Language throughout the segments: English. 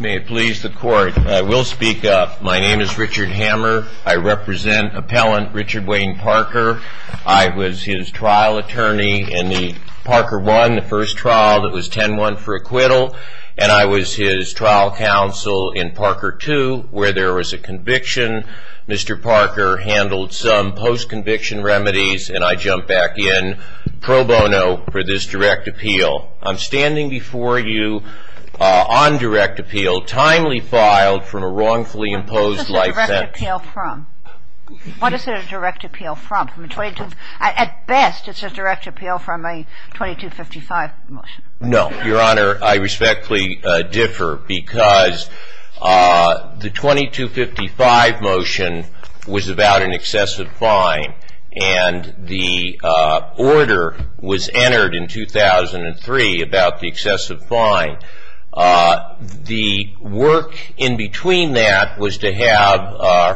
May it please the court, I will speak up. My name is Richard Hammer. I represent appellant Richard Wayne Parker. I was his trial attorney in the Parker 1, the first trial that was 10-1 for acquittal, and I was his trial counsel in Parker 2 where there was a conviction. Mr. Parker handled some post-conviction remedies and I jumped back in pro bono for this direct appeal. I'm standing before you on direct appeal, timely filed from a wrongfully imposed life sentence. What is a direct appeal from? What is a direct appeal from? At best, it's a direct appeal from a 2255 motion. No, your honor, I respectfully differ because the 2255 motion was about an excessive fine and the order was entered in 2003 about the excessive fine. The work in between that was to have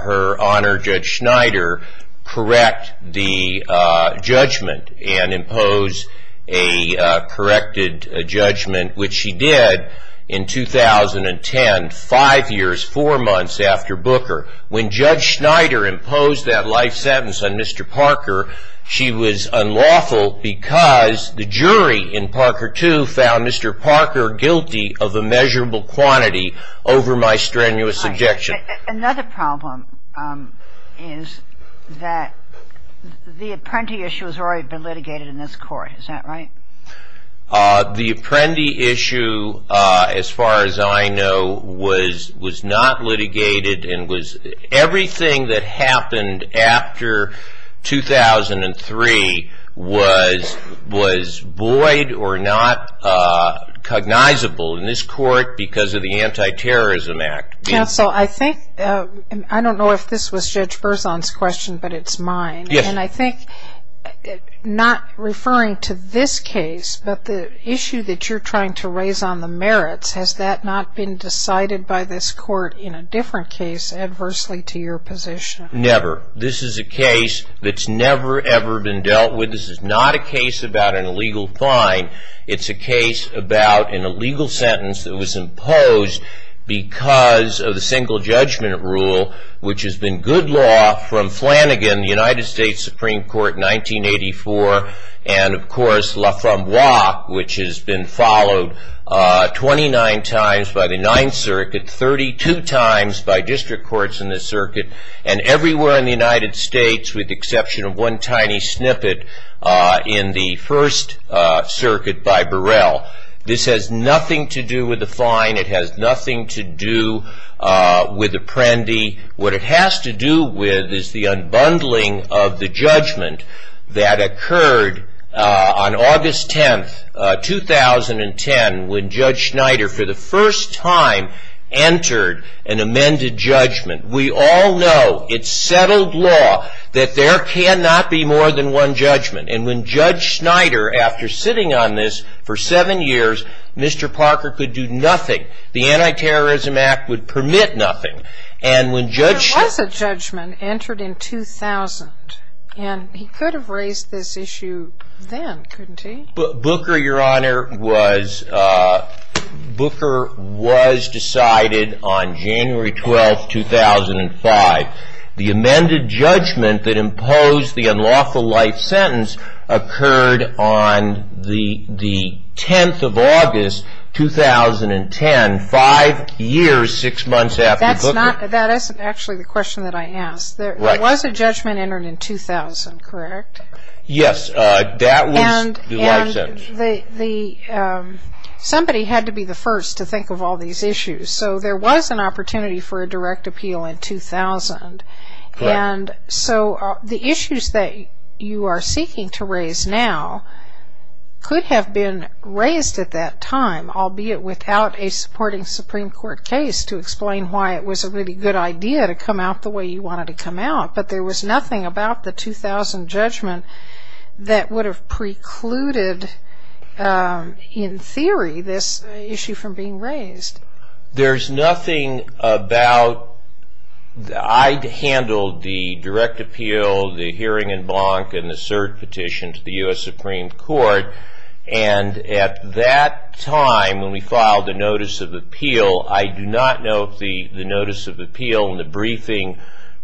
her honor Judge Schneider correct the judgment and impose a corrected judgment which she did in 2010, five years, four months after Booker. When Judge Schneider imposed that life sentence on Mr. Parker, she was unlawful because the jury in Parker 2 found Mr. Parker guilty of a measurable quantity over my strenuous objection. Another problem is that the apprentice issue has already been litigated in this court, is that right? The apprentice issue, as far as I know, was not litigated and everything that happened after 2003 was void or not cognizable in this court because of the Anti-Terrorism Act. Counsel, I think, I don't know if this was Judge Berzon's question but it's mine, and I think not referring to this case but the issue that you're trying to raise on the merits, has that not been decided by this court? Never. This is a case that's never ever been dealt with. This is not a case about an illegal fine. It's a case about an illegal sentence that was imposed because of the single judgment rule which has been good law from Flanagan, the United States Supreme Court, in 1984, and of course Laframboise which has been followed 29 times by the Ninth Circuit, 32 times by district courts in the circuit, and everywhere in the United States with the exception of one tiny snippet in the First Circuit by Burrell. This has nothing to do with the fine. It has nothing to do with the Apprendi. What it has to do with is the unbundling of the judgment that occurred on August 10th, 2010, when Judge Schneider, for the first time, entered an amended judgment. We all know, it's settled law, that there cannot be more than one judgment, and when Judge Schneider, after sitting on this for seven years, Mr. Parker could do nothing. The Anti-Terrorism Act would permit nothing, and when Judge... There was a judgment entered in 2000, and he could have raised this issue then, couldn't he? Booker, your honor, was decided on January 12th, 2005. The amended judgment that imposed the unlawful life sentence occurred on the 10th of August, 2010, five years, six months after Booker... That's not... That isn't actually the question that I asked. There was a judgment entered in 2000, correct? Yes, that was the life sentence. And somebody had to be the first to think of all these issues, so there was an opportunity for a direct appeal in 2000, and so the issues that you are seeking to raise now could have been raised at that time, albeit without a supporting Supreme Court case to explain why it was a really good idea to come out the way that would have precluded, in theory, this issue from being raised. There's nothing about... I handled the direct appeal, the hearing in Blanc, and the cert petition to the U.S. Supreme Court, and at that time, when we filed the notice of appeal, I do not know if the notice of appeal in the briefing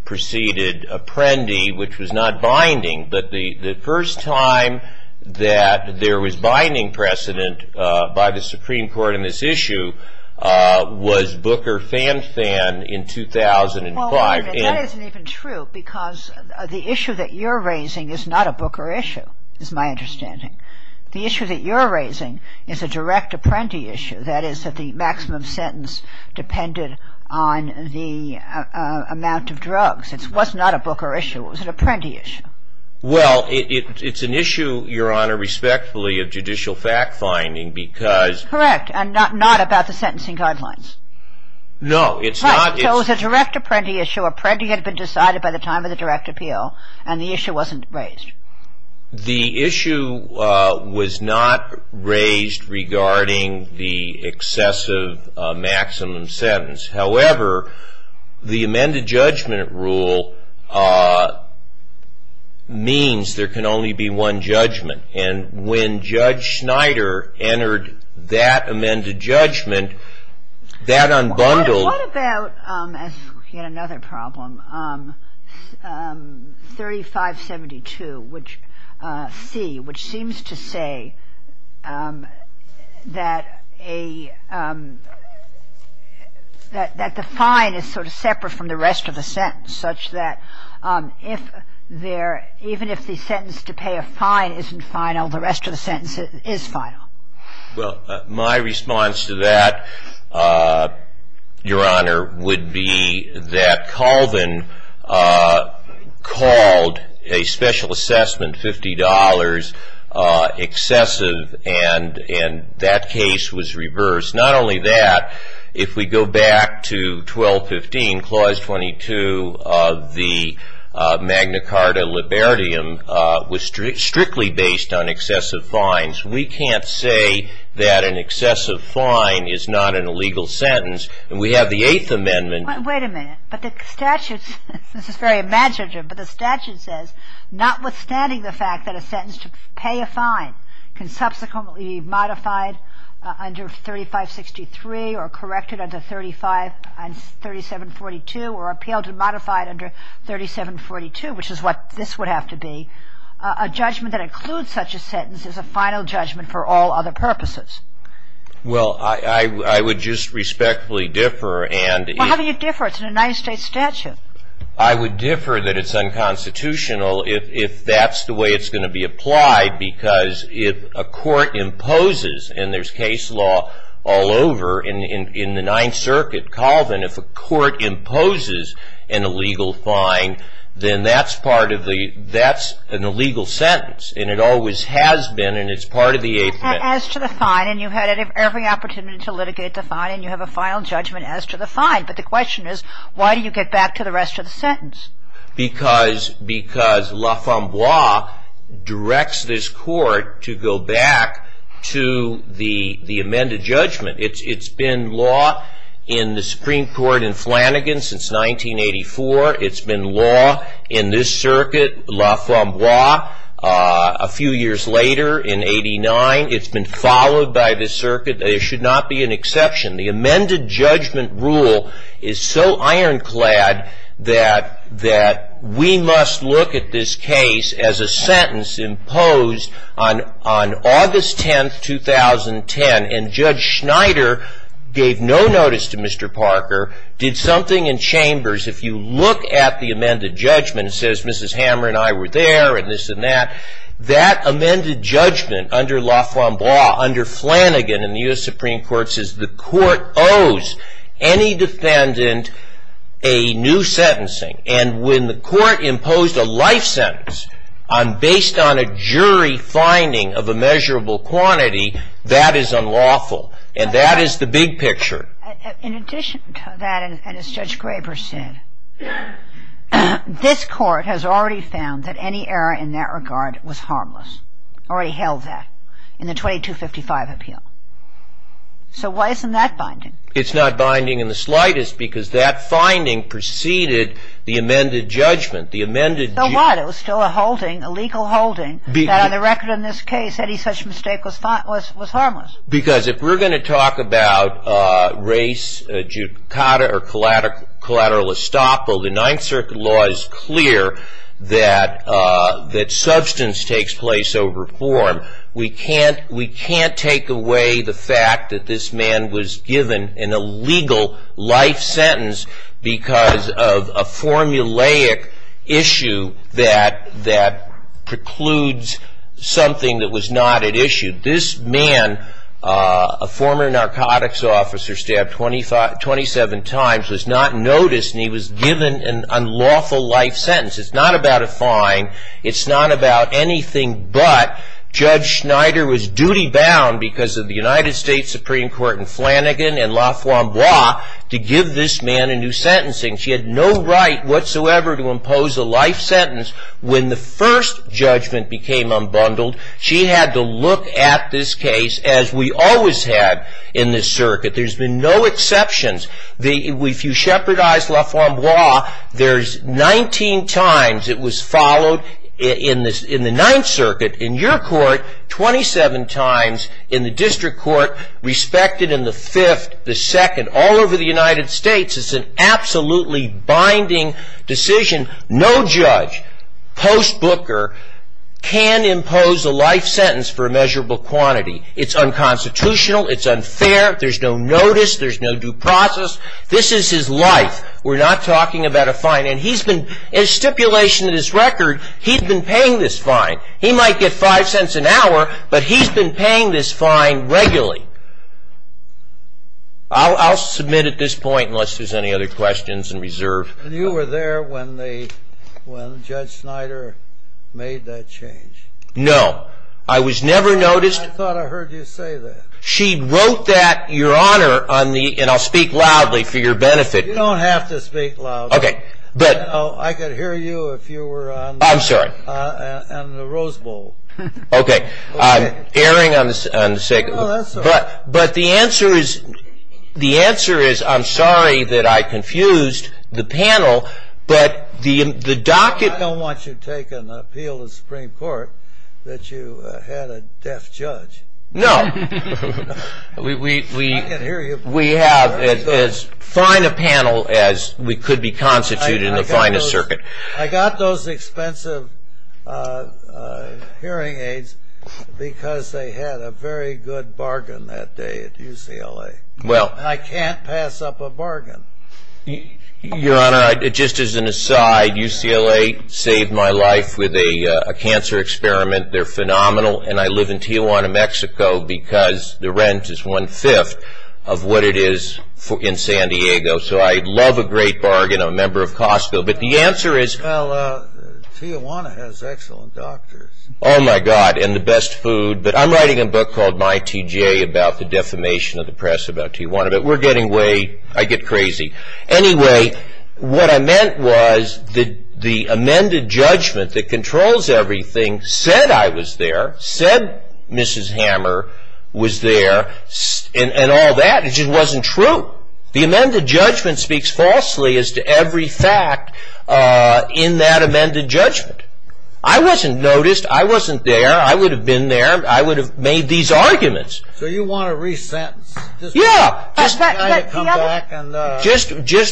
preceded Apprendi, which was not binding, but the first time that there was binding precedent by the Supreme Court in this issue was Booker-Fan-Fan in 2005. That isn't even true, because the issue that you're raising is not a Booker issue, is my understanding. The issue that you're raising is a direct Apprendi issue, that is, that the maximum sentence depended on the amount of drugs. It was not a Booker issue, it was an Apprendi issue. Well, it's an issue, Your Honor, respectfully, of judicial fact-finding, because... Correct, and not about the sentencing guidelines. No, it's not... Right, so it was a direct Apprendi issue. Apprendi had been decided by the time of the direct appeal, and the issue wasn't raised. The issue was not raised regarding the excessive maximum sentence. However, the amended judgment rule means there can only be one judgment, and when Judge Snyder entered that amended judgment, that unbundled... What about, as in another problem, 3572c, which seems to say that the fine is sort of separate from the rest of the sentence, such that even if the sentence to pay a fine isn't final, the rest of the sentence is final? Well, my response to that, Your Honor, would be that Colvin called a special assessment $50 excessive, and that case was reversed. Not only that, if we go back to 1215, Clause 22 of the Magna Carta Libertium, was strictly based on saying that an excessive fine is not an illegal sentence, and we have the Eighth Amendment... Wait a minute, but the statute, this is very imaginative, but the statute says notwithstanding the fact that a sentence to pay a fine can subsequently be modified under 3563, or corrected under 3742, or appealed and modified under 3742, which is what this would have to be, a judgment that includes such a fine for other purposes. Well, I would just respectfully differ, and... Well, how do you differ? It's a United States statute. I would differ that it's unconstitutional if that's the way it's going to be applied, because if a court imposes, and there's case law all over in the Ninth Circuit, Colvin, if a court imposes an illegal fine, then that's part of the, that's an illegal sentence, and it always has been, and it's part of the Eighth Amendment. As to the fine, and you had every opportunity to litigate the fine, and you have a final judgment as to the fine, but the question is, why do you get back to the rest of the sentence? Because, because La Femme Bois directs this court to go back to the, the amended judgment. It's, it's been law in the Supreme Court in Flanagan since 1984. It's been law in this circuit, La Femme Bois, a few years later in 89. It's been followed by this circuit. There should not be an exception. The amended judgment rule is so ironclad that, that we must look at this case as a sentence imposed on, on August 10th, 2010, and Judge Schneider gave no notice to Mr. Parker, did something in chambers. If you look at the amended judgment, it says Mrs. Hammer and I were there, and this and that. That amended judgment under La Femme Bois, under Flanagan in the U.S. Supreme Court, says the court owes any defendant a new sentencing. And when the court imposed a life sentence on, based on a jury finding of a measurable quantity, that is unlawful. And that is the big picture. In addition to that, and as Judge Graber said, this court has already found that any error in that regard was harmless, already held that, in the 2255 appeal. So why isn't that binding? It's not binding in the slightest, because that finding preceded the amended judgment. The amended judgment. So what? It was still a holding, a legal holding, that on the record in this case, any such mistake was harmless. Because if we're going to talk about race judicata or collateral estoppel, the Ninth Circuit law is clear that substance takes place over form. We can't take away the fact that this man was given an illegal life sentence, because of a formulaic issue that precludes something that was not at issue. This man, a former narcotics officer, stabbed 27 times, was not noticed, and he was given an unlawful life sentence. It's not about a fine. It's not about anything but Judge Schneider was duty-bound, because of the United States Supreme Court in Flanagan and LaFlambeau, to give this man a new sentencing. She had no right whatsoever to impose a life sentence. When the first judgment became unbundled, she had to look at this case as we always have in this circuit. There's been no exceptions. If you shepherdize LaFlambeau, there's 19 times it was followed in the Ninth Circuit, in your court, 27 times in the district court, respected in the Fifth, the Second, all over the United States. It's an absolutely binding decision. No judge, post-booker, can impose a life sentence for a measurable quantity. It's unconstitutional. It's unfair. There's no notice. There's no due process. This is his life. We're not talking about a fine. And he's been, in stipulation of this record, he's been paying this fine. He might get five cents an hour, but he's been paying this fine regularly. I'll submit at this point, unless there's any other questions in reserve. And you were there when Judge Schneider made that change? No. I was never noticed. I thought I heard you say that. She wrote that, Your Honor, on the, and I'll speak loudly for your benefit. You don't have to speak loud. OK. But. I could hear you if you were on the. I'm sorry. On the Rose Bowl. OK. I'm erring on the second. Oh, that's all right. But the answer is, the answer is, I'm sorry that I confused the panel. But the docket. I don't want you to take an appeal to the Supreme Court that you had a deaf judge. No. We have as fine a panel as we could be constituted in the finest circuit. I got those expensive hearing aids because they had a very good bargain that day at UCLA. Well. I can't pass up a bargain. Your Honor, just as an aside, UCLA saved my life with a cancer experiment. They're phenomenal. And I live in Tijuana, Mexico, because the rent is one fifth of what it is in San Diego. So I love a great bargain. I'm a member of Costco. But the answer is. Well, Tijuana has excellent doctors. Oh my god. And the best food. But I'm writing a book called My TGA about the defamation of the press about Tijuana. But we're getting way, I get crazy. Anyway, what I meant was that the amended judgment that said Mrs. Hammer was there and all that, it just wasn't true. The amended judgment speaks falsely as to every fact in that amended judgment. I wasn't noticed. I wasn't there. I would have been there. I would have made these arguments. So you want to re-sentence? Yeah. Just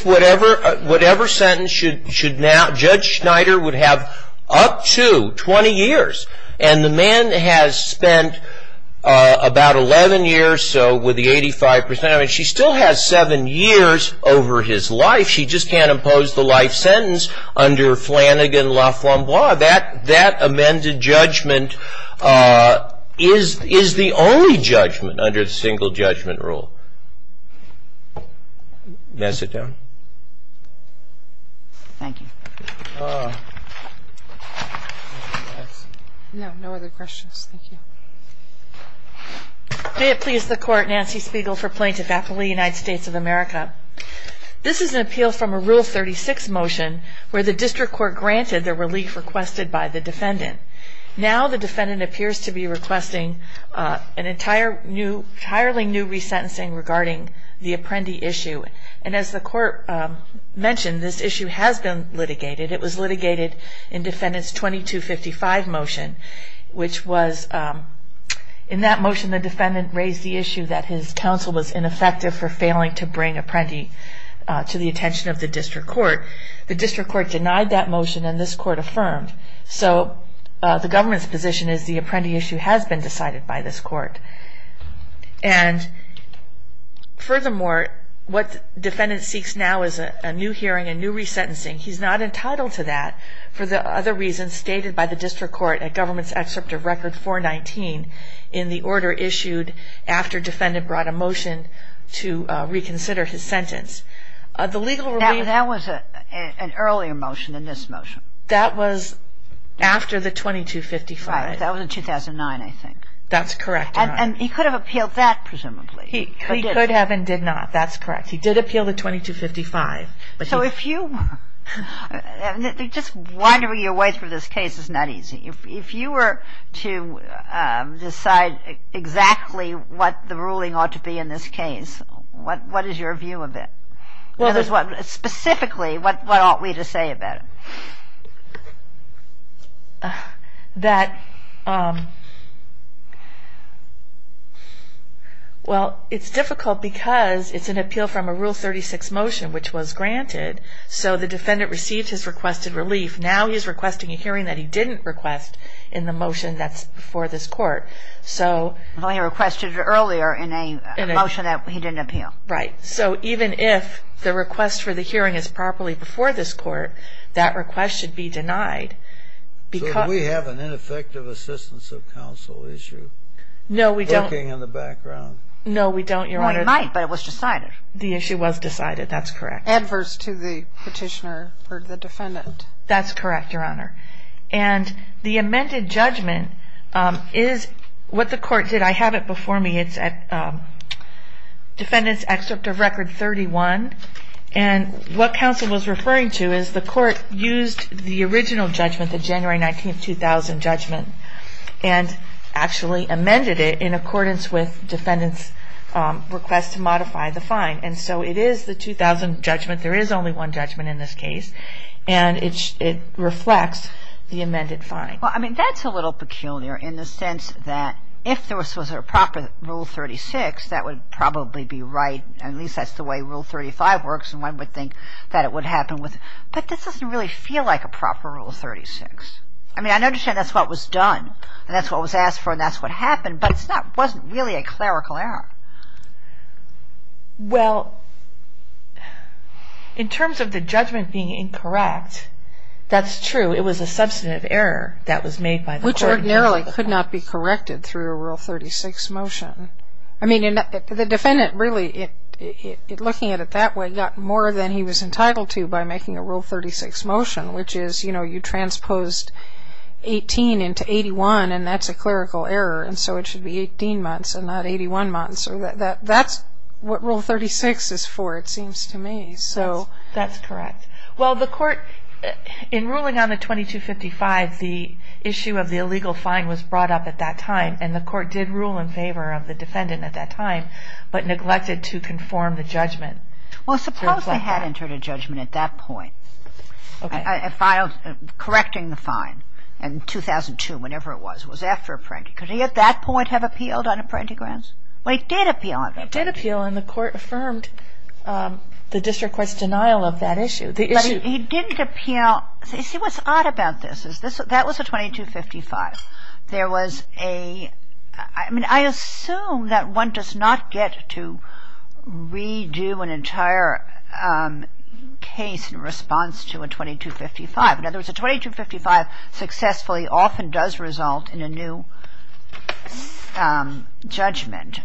whatever sentence Judge Schneider would have up to 20 years. And the man has spent about 11 years. So with the 85%, I mean, she still has seven years over his life. She just can't impose the life sentence under Flanagan, LaFlambeau. That amended judgment is the only judgment under the single judgment rule. May I sit down? Thank you. No, no other questions. Thank you. May it please the court, Nancy Spiegel for plaintiff, Appellate United States of America. This is an appeal from a Rule 36 motion where the district court granted the relief requested by the defendant. Now the defendant appears to be requesting an entirely new re-sentencing regarding the Apprendi issue. And as the court mentioned, this issue has been litigated. It was litigated in defendant's 2255 motion, which was in that motion the defendant raised the issue that his counsel was ineffective for failing to bring Apprendi to the attention of the district court. The district court denied that motion and this court affirmed. So the government's position is the Apprendi issue has been decided by this court. And furthermore, what the defendant seeks now is a new hearing, a new re-sentencing. He's not entitled to that for the other reasons stated by the district court at government's excerpt of record 419 in the order issued after defendant brought a motion to reconsider his sentence. The legal relief. That was an earlier motion than this motion. That was after the 2255. That was in 2009, I think. That's correct. And he could have appealed that, presumably. He could have and did not. That's correct. He did appeal the 2255. So if you were just wandering your way through this case, it's not easy. If you were to decide exactly what the ruling ought to be in this case, what is your view of it? Specifically, what ought we to say about it? Well, it's difficult because it's an appeal from a Rule 36 motion, which was granted. So the defendant received his requested relief. Now he's requesting a hearing that he didn't request in the motion that's before this court. So he requested it earlier in a motion that he didn't appeal. Right. So even if the request for the hearing is properly before this court, that request should be denied. Do we have an ineffective assistance of counsel issue? No, we don't. Working in the background. No, we don't, Your Honor. We might, but it was decided. The issue was decided. That's correct. Adverse to the petitioner or the defendant. That's correct, Your Honor. And the amended judgment is what the court did. I have it before me. It's at Defendant's Excerpt of Record 31. And what counsel was referring to is the court used the original judgment, the January 19, 2000 judgment, and actually amended it in accordance with defendant's request to modify the fine. And so it is the 2000 judgment. There is only one judgment in this case. And it reflects the amended fine. Well, I mean, that's a little peculiar in the sense that if this was a proper Rule 36, that would probably be right. At least that's the way Rule 35 works. And one would think that it would happen with it. But this doesn't really feel like a proper Rule 36. I mean, I understand that's what was done. And that's what was asked for. And that's what happened. But it wasn't really a clerical error. Well, in terms of the judgment being incorrect, that's true. It was a substantive error that was made by the court. Which ordinarily could not be corrected through a Rule 36 motion. I mean, the defendant really, looking at it that way, got more than he was entitled to by making a Rule 36 motion, which is you transposed 18 into 81. And that's a clerical error. And so it should be 18 months and not 81 months. That's what Rule 36 is for, it seems to me. That's correct. Well, in ruling on the 2255, the issue of the illegal fine was brought up at that time. And the court did rule in favor of the defendant at that time, but neglected to conform the judgment. Well, suppose they had entered a judgment at that point, correcting the fine in 2002, whenever it was. It was after a prank. Could he, at that point, have appealed on apprentice grounds? Well, he did appeal on it. He did appeal, and the court affirmed the district court's denial of that issue. But he didn't appeal. You see, what's odd about this is that was a 2255. There was a, I mean, I assume that one does not get to redo an entire case in response to a 2255. In other words, a 2255 successfully often does result in a new judgment.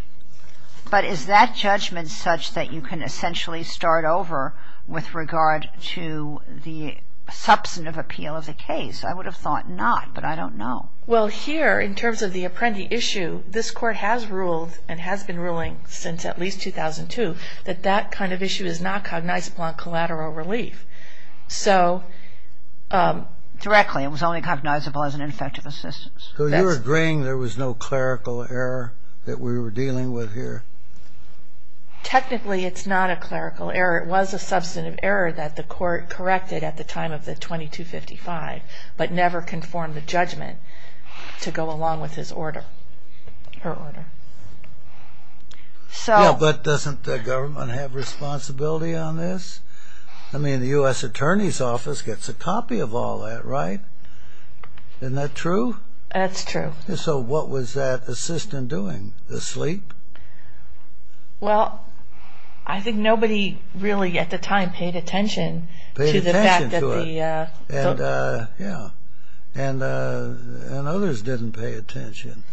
But is that judgment such that you can essentially start over with regard to the substantive appeal of the case? I would have thought not, but I don't know. Well, here, in terms of the apprentice issue, this court has ruled, and has been ruling since at least 2002, that that kind of issue is not cognizable on collateral relief. So directly, it was only cognizable as an ineffective assistance. So you're agreeing there was no clerical error that we were dealing with here? Technically, it's not a clerical error. It was a substantive error that the court corrected at the time of the 2255, but never conformed the judgment to go along with his order, her order. Yeah, but doesn't the government have responsibility on this? I mean, the US Attorney's Office gets a copy of all that, right? Isn't that true? That's true. So what was that assistant doing? Asleep? Well, I think nobody really, at the time, paid attention to the fact that the- And others didn't pay attention.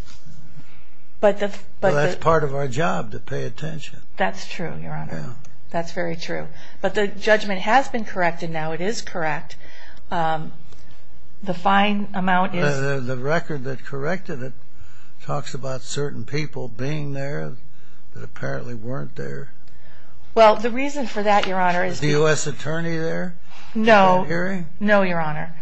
But that's part of our job, to pay attention. That's true, Your Honor. That's very true. But the judgment has been corrected now. It is correct. The fine amount is- The record that corrected it talks about certain people being there that apparently weren't there. Well, the reason for that, Your Honor, is- Was the US Attorney there? No. No, Your Honor.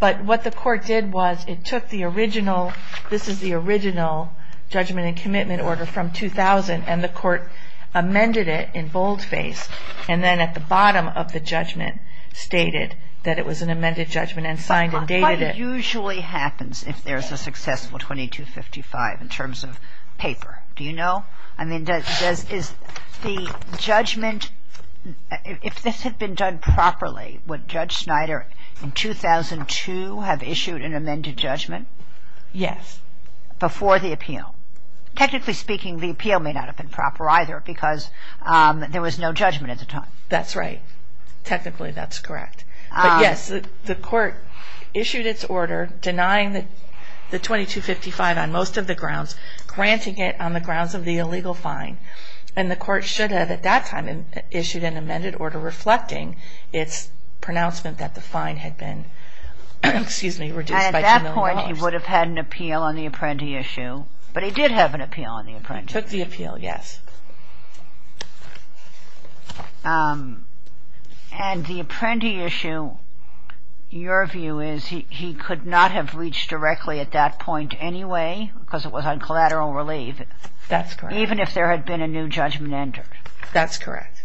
But what the court did was, it took the original- this is the original judgment and commitment order from 2000, and the court amended it in boldface. And then, at the bottom of the judgment, stated that it was an amended judgment and signed and dated it. What usually happens if there's a successful 2255, in terms of paper? Do you know? I mean, does- is the judgment- if this had been done properly, would Judge Snyder, in 2002, have issued an amended judgment? Yes. Before the appeal? Technically speaking, the appeal may not have been proper either, because there was no judgment at the time. That's right. Technically, that's correct. But yes, the court issued its order, denying the 2255 on most of the grounds, granting it on the grounds of the illegal fine. And the court should have, at that time, issued an amended order reflecting its pronouncement that the fine had been, excuse me, reduced by two million dollars. And at that point, he would have had an appeal on the apprentice issue, but he did have an appeal on the apprentice issue. He took the appeal, yes. And the apprentice issue, your view is he could not have reached directly at that point anyway, because it was on collateral relief. That's correct. Even if there had been a new judgment entered. That's correct.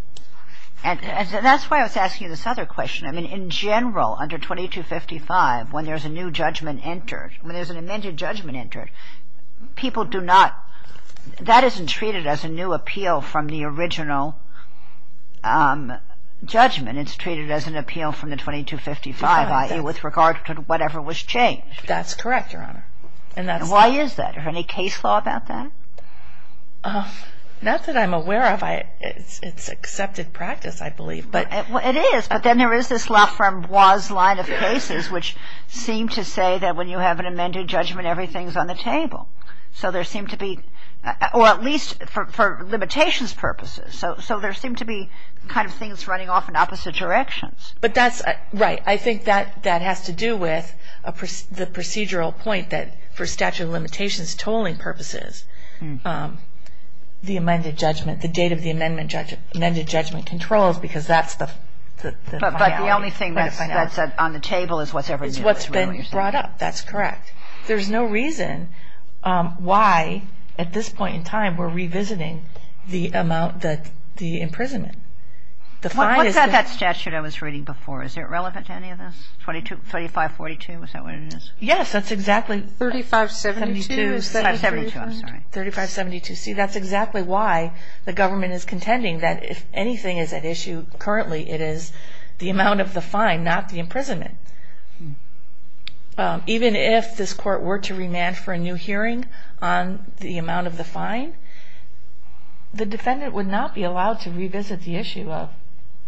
And that's why I was asking you this other question. I mean, in general, under 2255, when there's a new judgment entered, when there's an amended judgment entered, people do not- That isn't treated as a new appeal from the original judgment. It's treated as an appeal from the 2255, i.e., with regard to whatever was changed. That's correct, Your Honor. And that's- Why is that? Is there any case law about that? Not that I'm aware of. It's accepted practice, I believe, but- It is, but then there is this Laframboise line of cases which seem to say that when you have an amended judgment, everything's on the table. So there seem to be, or at least for limitations purposes, so there seem to be kind of things running off in opposite directions. But that's- Right. I think that has to do with the procedural point that for statute of limitations tolling purposes, the amended judgment, the date of the amended judgment controls, because that's the finality. But the only thing that's on the table is what's ever been brought up. That's correct. There's no reason why, at this point in time, we're revisiting the amount, the imprisonment. The fine is- What's that statute I was reading before? Is it relevant to any of this? 2542, is that what it is? Yes, that's exactly- 3572. 3572, I'm sorry. 3572. See, that's exactly why the government is contending that if anything is at issue currently, it is the amount of the fine, not the imprisonment. Even if this court were to remand for a new hearing on the amount of the fine, the defendant would not be allowed to revisit the issue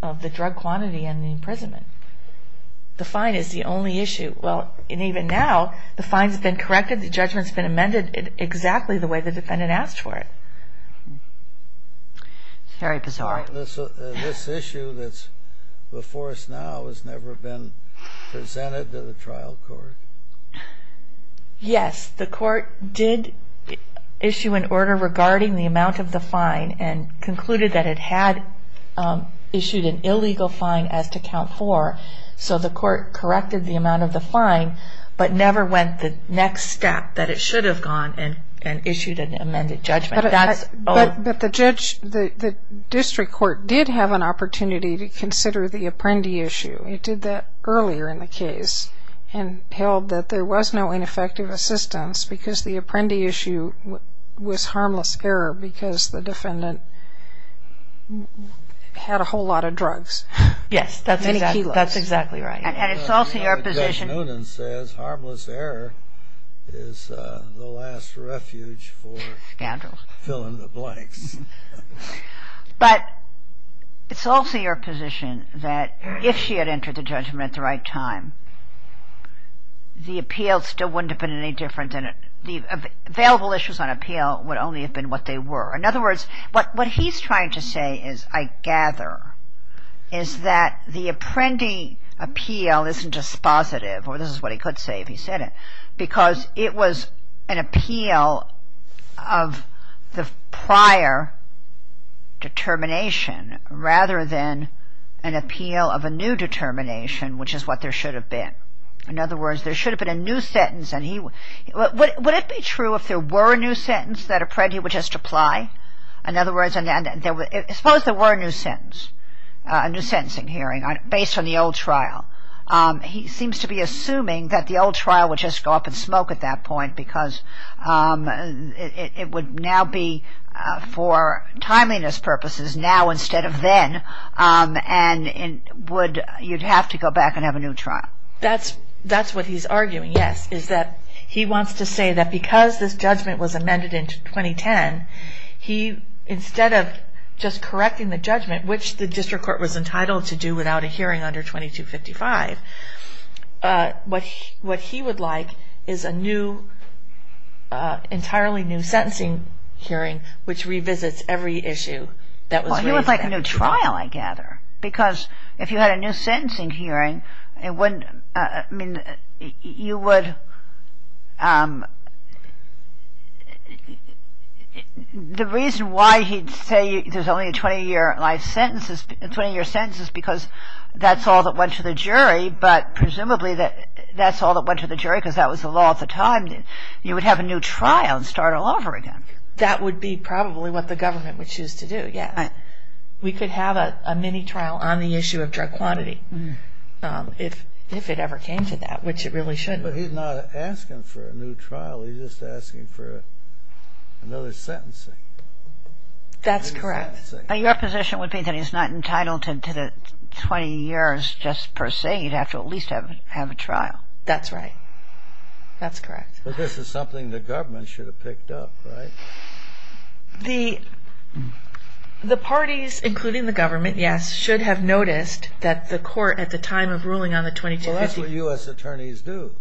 of the drug quantity and the imprisonment. The fine is the only issue. Well, and even now, the fine's been corrected, the judgment's been amended exactly the way the defendant asked for it. It's very bizarre. This issue that's before us now has never been presented to the trial court. Yes, the court did issue an order regarding the amount of the fine and concluded that it had issued an illegal fine as to count four, so the court corrected the amount of the fine, but never went the next step, that it should have gone and issued an amended judgment. That's- But the judge, the district court, did have an opportunity to consider the Apprendi issue. It did that earlier in the case and held that there was no ineffective assistance because the Apprendi issue was harmless error because the defendant had a whole lot of drugs. Yes, that's exactly right. And it's also your position- Judge Noonan says harmless error is the last refuge for- Scandals. Fill in the blanks. But it's also your position that if she had entered the judgment at the right time, the appeal still wouldn't have been any different and the available issues on appeal would only have been what they were. In other words, what he's trying to say is, I gather, is that the Apprendi appeal isn't dispositive, or this is what he could say if he said it, because it was an appeal of the prior determination rather than an appeal of a new determination, which is what there should have been. In other words, there should have been a new sentence and he- Would it be true if there were a new sentence that Apprendi would just apply? In other words, suppose there were a new sentence, a new sentencing hearing based on the old trial. He seems to be assuming that the old trial would just go up in smoke at that point because it would now be, for timeliness purposes, now instead of then, and you'd have to go back and have a new trial. That's what he's arguing, yes, is that he wants to say that because this judgment was amended in 2010, he, instead of just correcting the judgment, which the district court was entitled to do without a hearing under 2255, what he would like is a new, entirely new sentencing hearing which revisits every issue that was raised. Well, he would like a new trial, I gather, because if you had a new sentencing hearing, the reason why he'd say there's only a 20-year life sentence, 20-year sentence is because that's all that went to the jury, but presumably that's all that went to the jury because that was the law at the time. You would have a new trial and start all over again. That would be probably what the government would choose to do, yeah. We could have a mini-trial on the issue of drug quantity if it ever came to that, which it really should. But he's not asking for a new trial, he's just asking for another sentencing. That's correct. Your position would be that he's not entitled to the 20 years just per se, he'd have to at least have a trial. That's right. That's correct. Well, this is something the government should have picked up, right? The parties, including the government, yes, should have noticed that the court at the time of ruling on the 2255- Well, that's what U.S. attorneys do.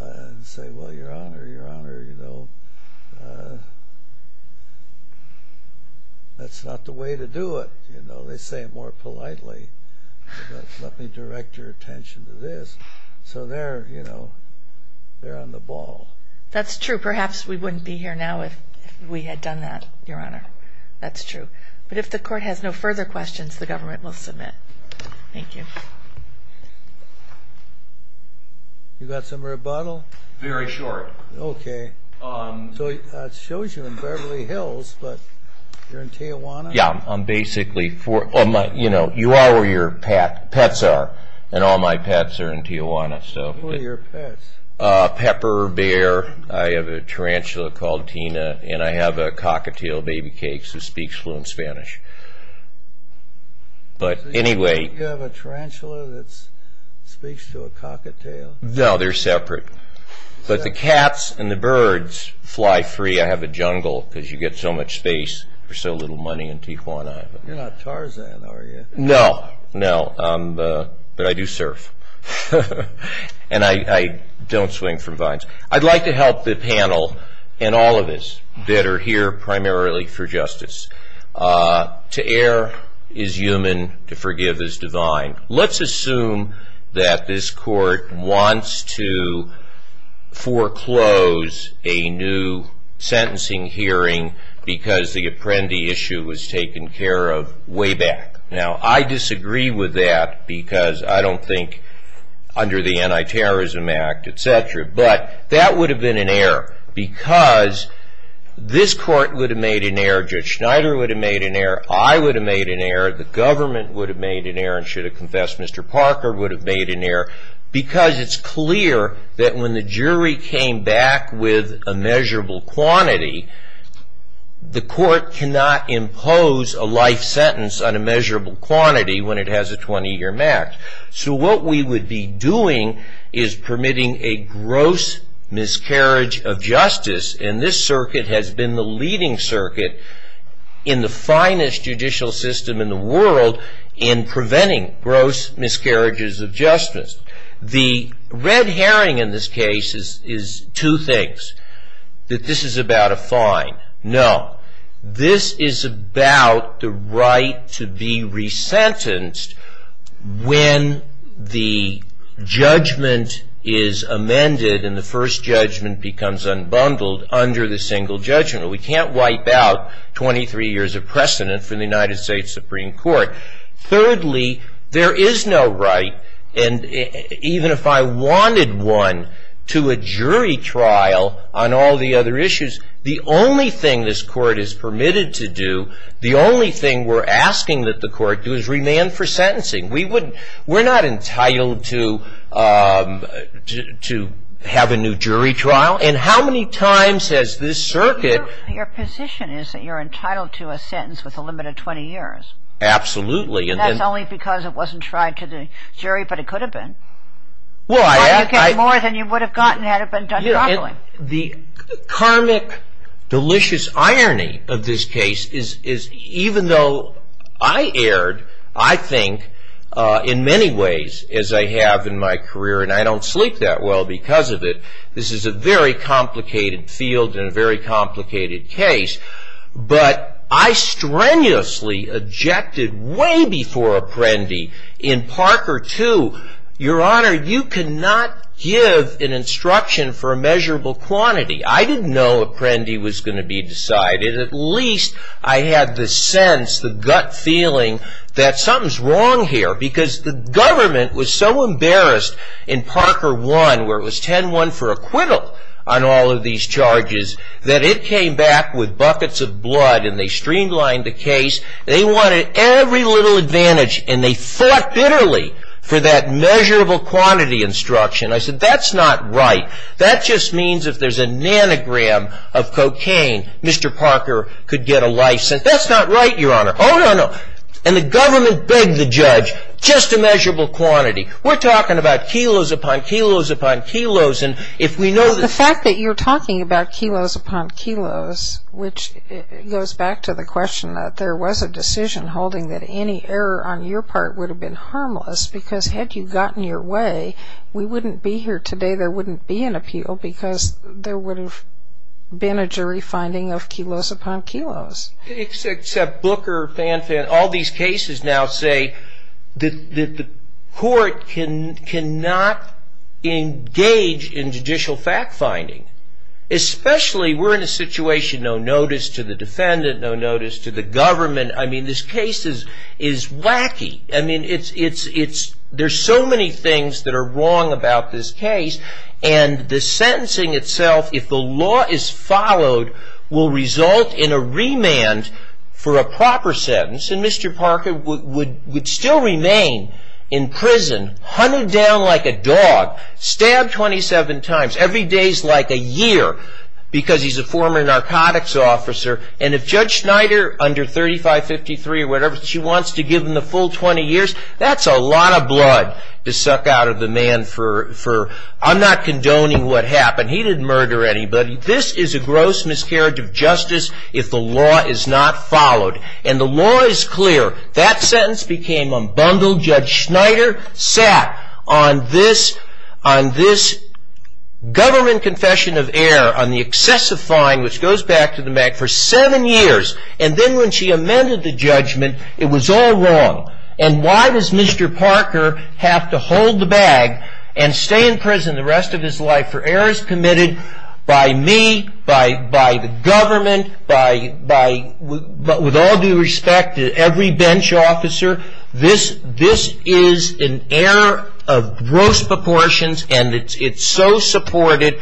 and say, well, Your Honor, Your Honor, that's not the way to do it. They say it more politely, let me direct your attention to this. So they're on the ball. That's true. Perhaps we wouldn't be here now if we had done that, Your Honor. That's true. But if the court has no further questions, the government will submit. Thank you. You got some rebuttal? Very short. Okay. So it shows you in Beverly Hills, but you're in Tijuana? Yeah, I'm basically for, you know, you are where your pets are, and all my pets are in Tijuana. So- Who are your pets? Pepper, Bear, I have a tarantula called Tina, and I have a cockatiel, Baby Cakes, who speaks fluent Spanish. But anyway- You have a tarantula that speaks to a cockatiel? No, they're separate. But the cats and the birds fly free. I have a jungle, because you get so much space for so little money in Tijuana. You're not Tarzan, are you? No, no, but I do surf. And I don't swing from vines. I'd like to help the panel, and all of us that are here primarily for justice. To err is human, to forgive is divine. Let's assume that this court wants to foreclose a new sentencing hearing, because the Apprendi issue was taken care of way back. Now, I disagree with that, because I don't think, under the Anti-Terrorism Act, et cetera, but that would have been an error, because this court would have made an error, Judge Schneider would have made an error, I would have made an error, the government would have made an error, and should have confessed Mr. Parker would have made an error, because it's clear that when the jury came back with a measurable quantity, the court cannot impose a life sentence on a measurable quantity when it has a 20-year max. So what we would be doing is permitting a gross miscarriage of justice, and this circuit has been the leading circuit in the finest judicial system in the world in preventing gross miscarriages of justice. The red herring in this case is two things, that this is about a fine. No, this is about the right to be resentenced when the judgment is amended and the first judgment becomes unbundled under the single judgment. We can't wipe out 23 years of precedent for the United States Supreme Court. Thirdly, there is no right, and even if I wanted one, to a jury trial on all the other issues, the only thing this court is permitted to do, the only thing we're asking that the court do is remand for sentencing. We're not entitled to have a new jury trial, and how many times has this circuit- Your position is that you're entitled to a sentence with a limit of 20 years. Absolutely. And that's only because it wasn't tried to the jury, but it could have been. Well, I- You get more than you would have gotten had it been done properly. The karmic, delicious irony of this case is even though I erred, I think in many ways as I have in my career, and I don't sleep that well because of it, this is a very complicated field and a very complicated case, but I strenuously objected way before Apprendi in Parker 2, Your Honor, you cannot give an instruction for a measurable quantity. I didn't know Apprendi was gonna be decided. At least I had the sense, the gut feeling that something's wrong here because the government was so embarrassed in Parker 1 where it was 10-1 for acquittal on all of these charges that it came back with buckets of blood and they streamlined the case. They wanted every little advantage and they fought bitterly for that measurable quantity instruction. I said, that's not right. That just means if there's a nanogram of cocaine, Mr. Parker could get a license. That's not right, Your Honor. Oh, no, no. And the government begged the judge, just a measurable quantity. We're talking about kilos upon kilos upon kilos. And if we know- The fact that you're talking about kilos upon kilos, which goes back to the question that there was a decision holding that any error on your part would have been harmless because had you gotten your way, we wouldn't be here today. There wouldn't be an appeal because there would have been a jury finding of kilos upon kilos. Except Booker, Fanfan, all these cases now say that the court cannot engage in judicial fact-finding, especially we're in a situation, no notice to the defendant, no notice to the government. I mean, this case is wacky. I mean, there's so many things that are wrong about this case and the sentencing itself, if the law is followed, will result in a remand for a proper sentence and Mr. Parker would still remain in prison, hunted down like a dog, stabbed 27 times, every day's like a year because he's a former narcotics officer and if Judge Schneider, under 3553 or whatever, she wants to give him the full 20 years, that's a lot of blood to suck out of the man for, I'm not condoning what happened. He didn't murder anybody. This is a gross miscarriage of justice if the law is not followed and the law is clear. That sentence became unbundled. Judge Schneider sat on this government confession of error on the excessive fine, which goes back to the Mac, for seven years and then when she amended the judgment, it was all wrong and why does Mr. Parker have to hold the bag and stay in prison the rest of his life for errors committed by me, by the government, by, with all due respect, every bench officer? This is an error of gross proportions and it's so supported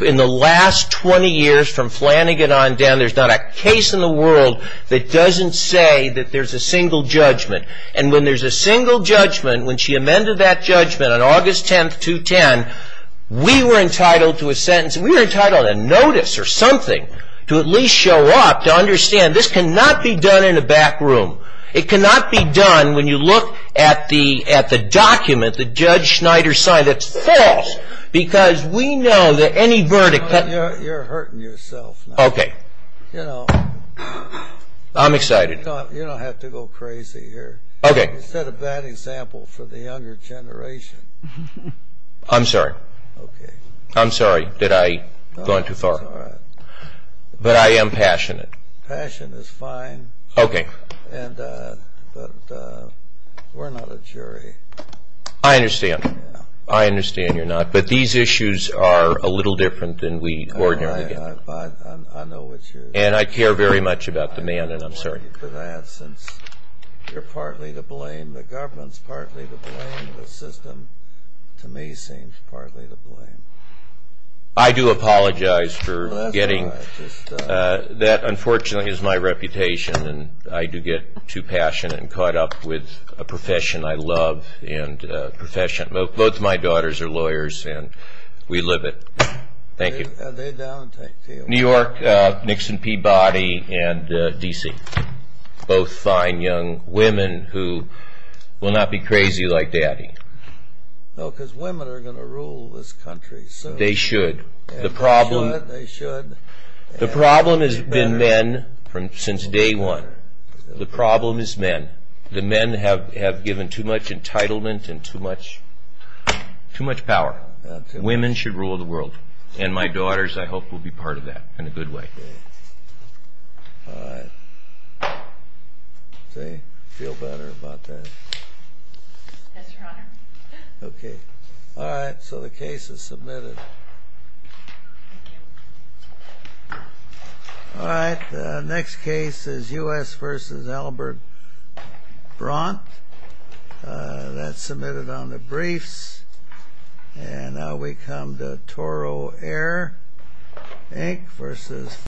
in the last 20 years from Flanagan on down. There's not a case in the world that doesn't say that there's a single judgment and when there's a single judgment, when she amended that judgment on August 10th, 2010, we were entitled to a sentence, we were entitled to a notice or something to at least show up, to understand this cannot be done in a back room. It cannot be done when you look at the document that Judge Schneider signed that's false because we know that any verdict... You're hurting yourself now. Okay. You know... I'm excited. You don't have to go crazy here. Okay. You set a bad example for the younger generation. I'm sorry. Okay. I'm sorry that I've gone too far. But I am passionate. Passion is fine. Okay. But we're not a jury. I understand. I understand you're not. But these issues are a little different than we ordinarily get. I know what you're... And I care very much about the man and I'm sorry. I'm worried for that since you're partly to blame, the government's partly to blame, the system to me seems partly to blame. I do apologize for getting... That's all right. That unfortunately is my reputation and I do get too passionate and caught up with a profession I love and a profession... Both my daughters are lawyers and we live it. Thank you. And they don't take... New York, Nixon Peabody, and D.C. Both fine young women who will not be crazy like Daddy. No, because women are going to rule this country. They should. And they should. The problem has been men since day one. The problem is men. The men have given too much entitlement and too much power. Women should rule the world. And my daughters, I hope, will be part of that in a good way. All right. See? Feel better about that? Yes, Your Honor. Okay. All right. So the case is submitted. All right. The next case is U.S. v. Albert Bront. That's submitted on the briefs. And now we come to Toro Air, Inc. v.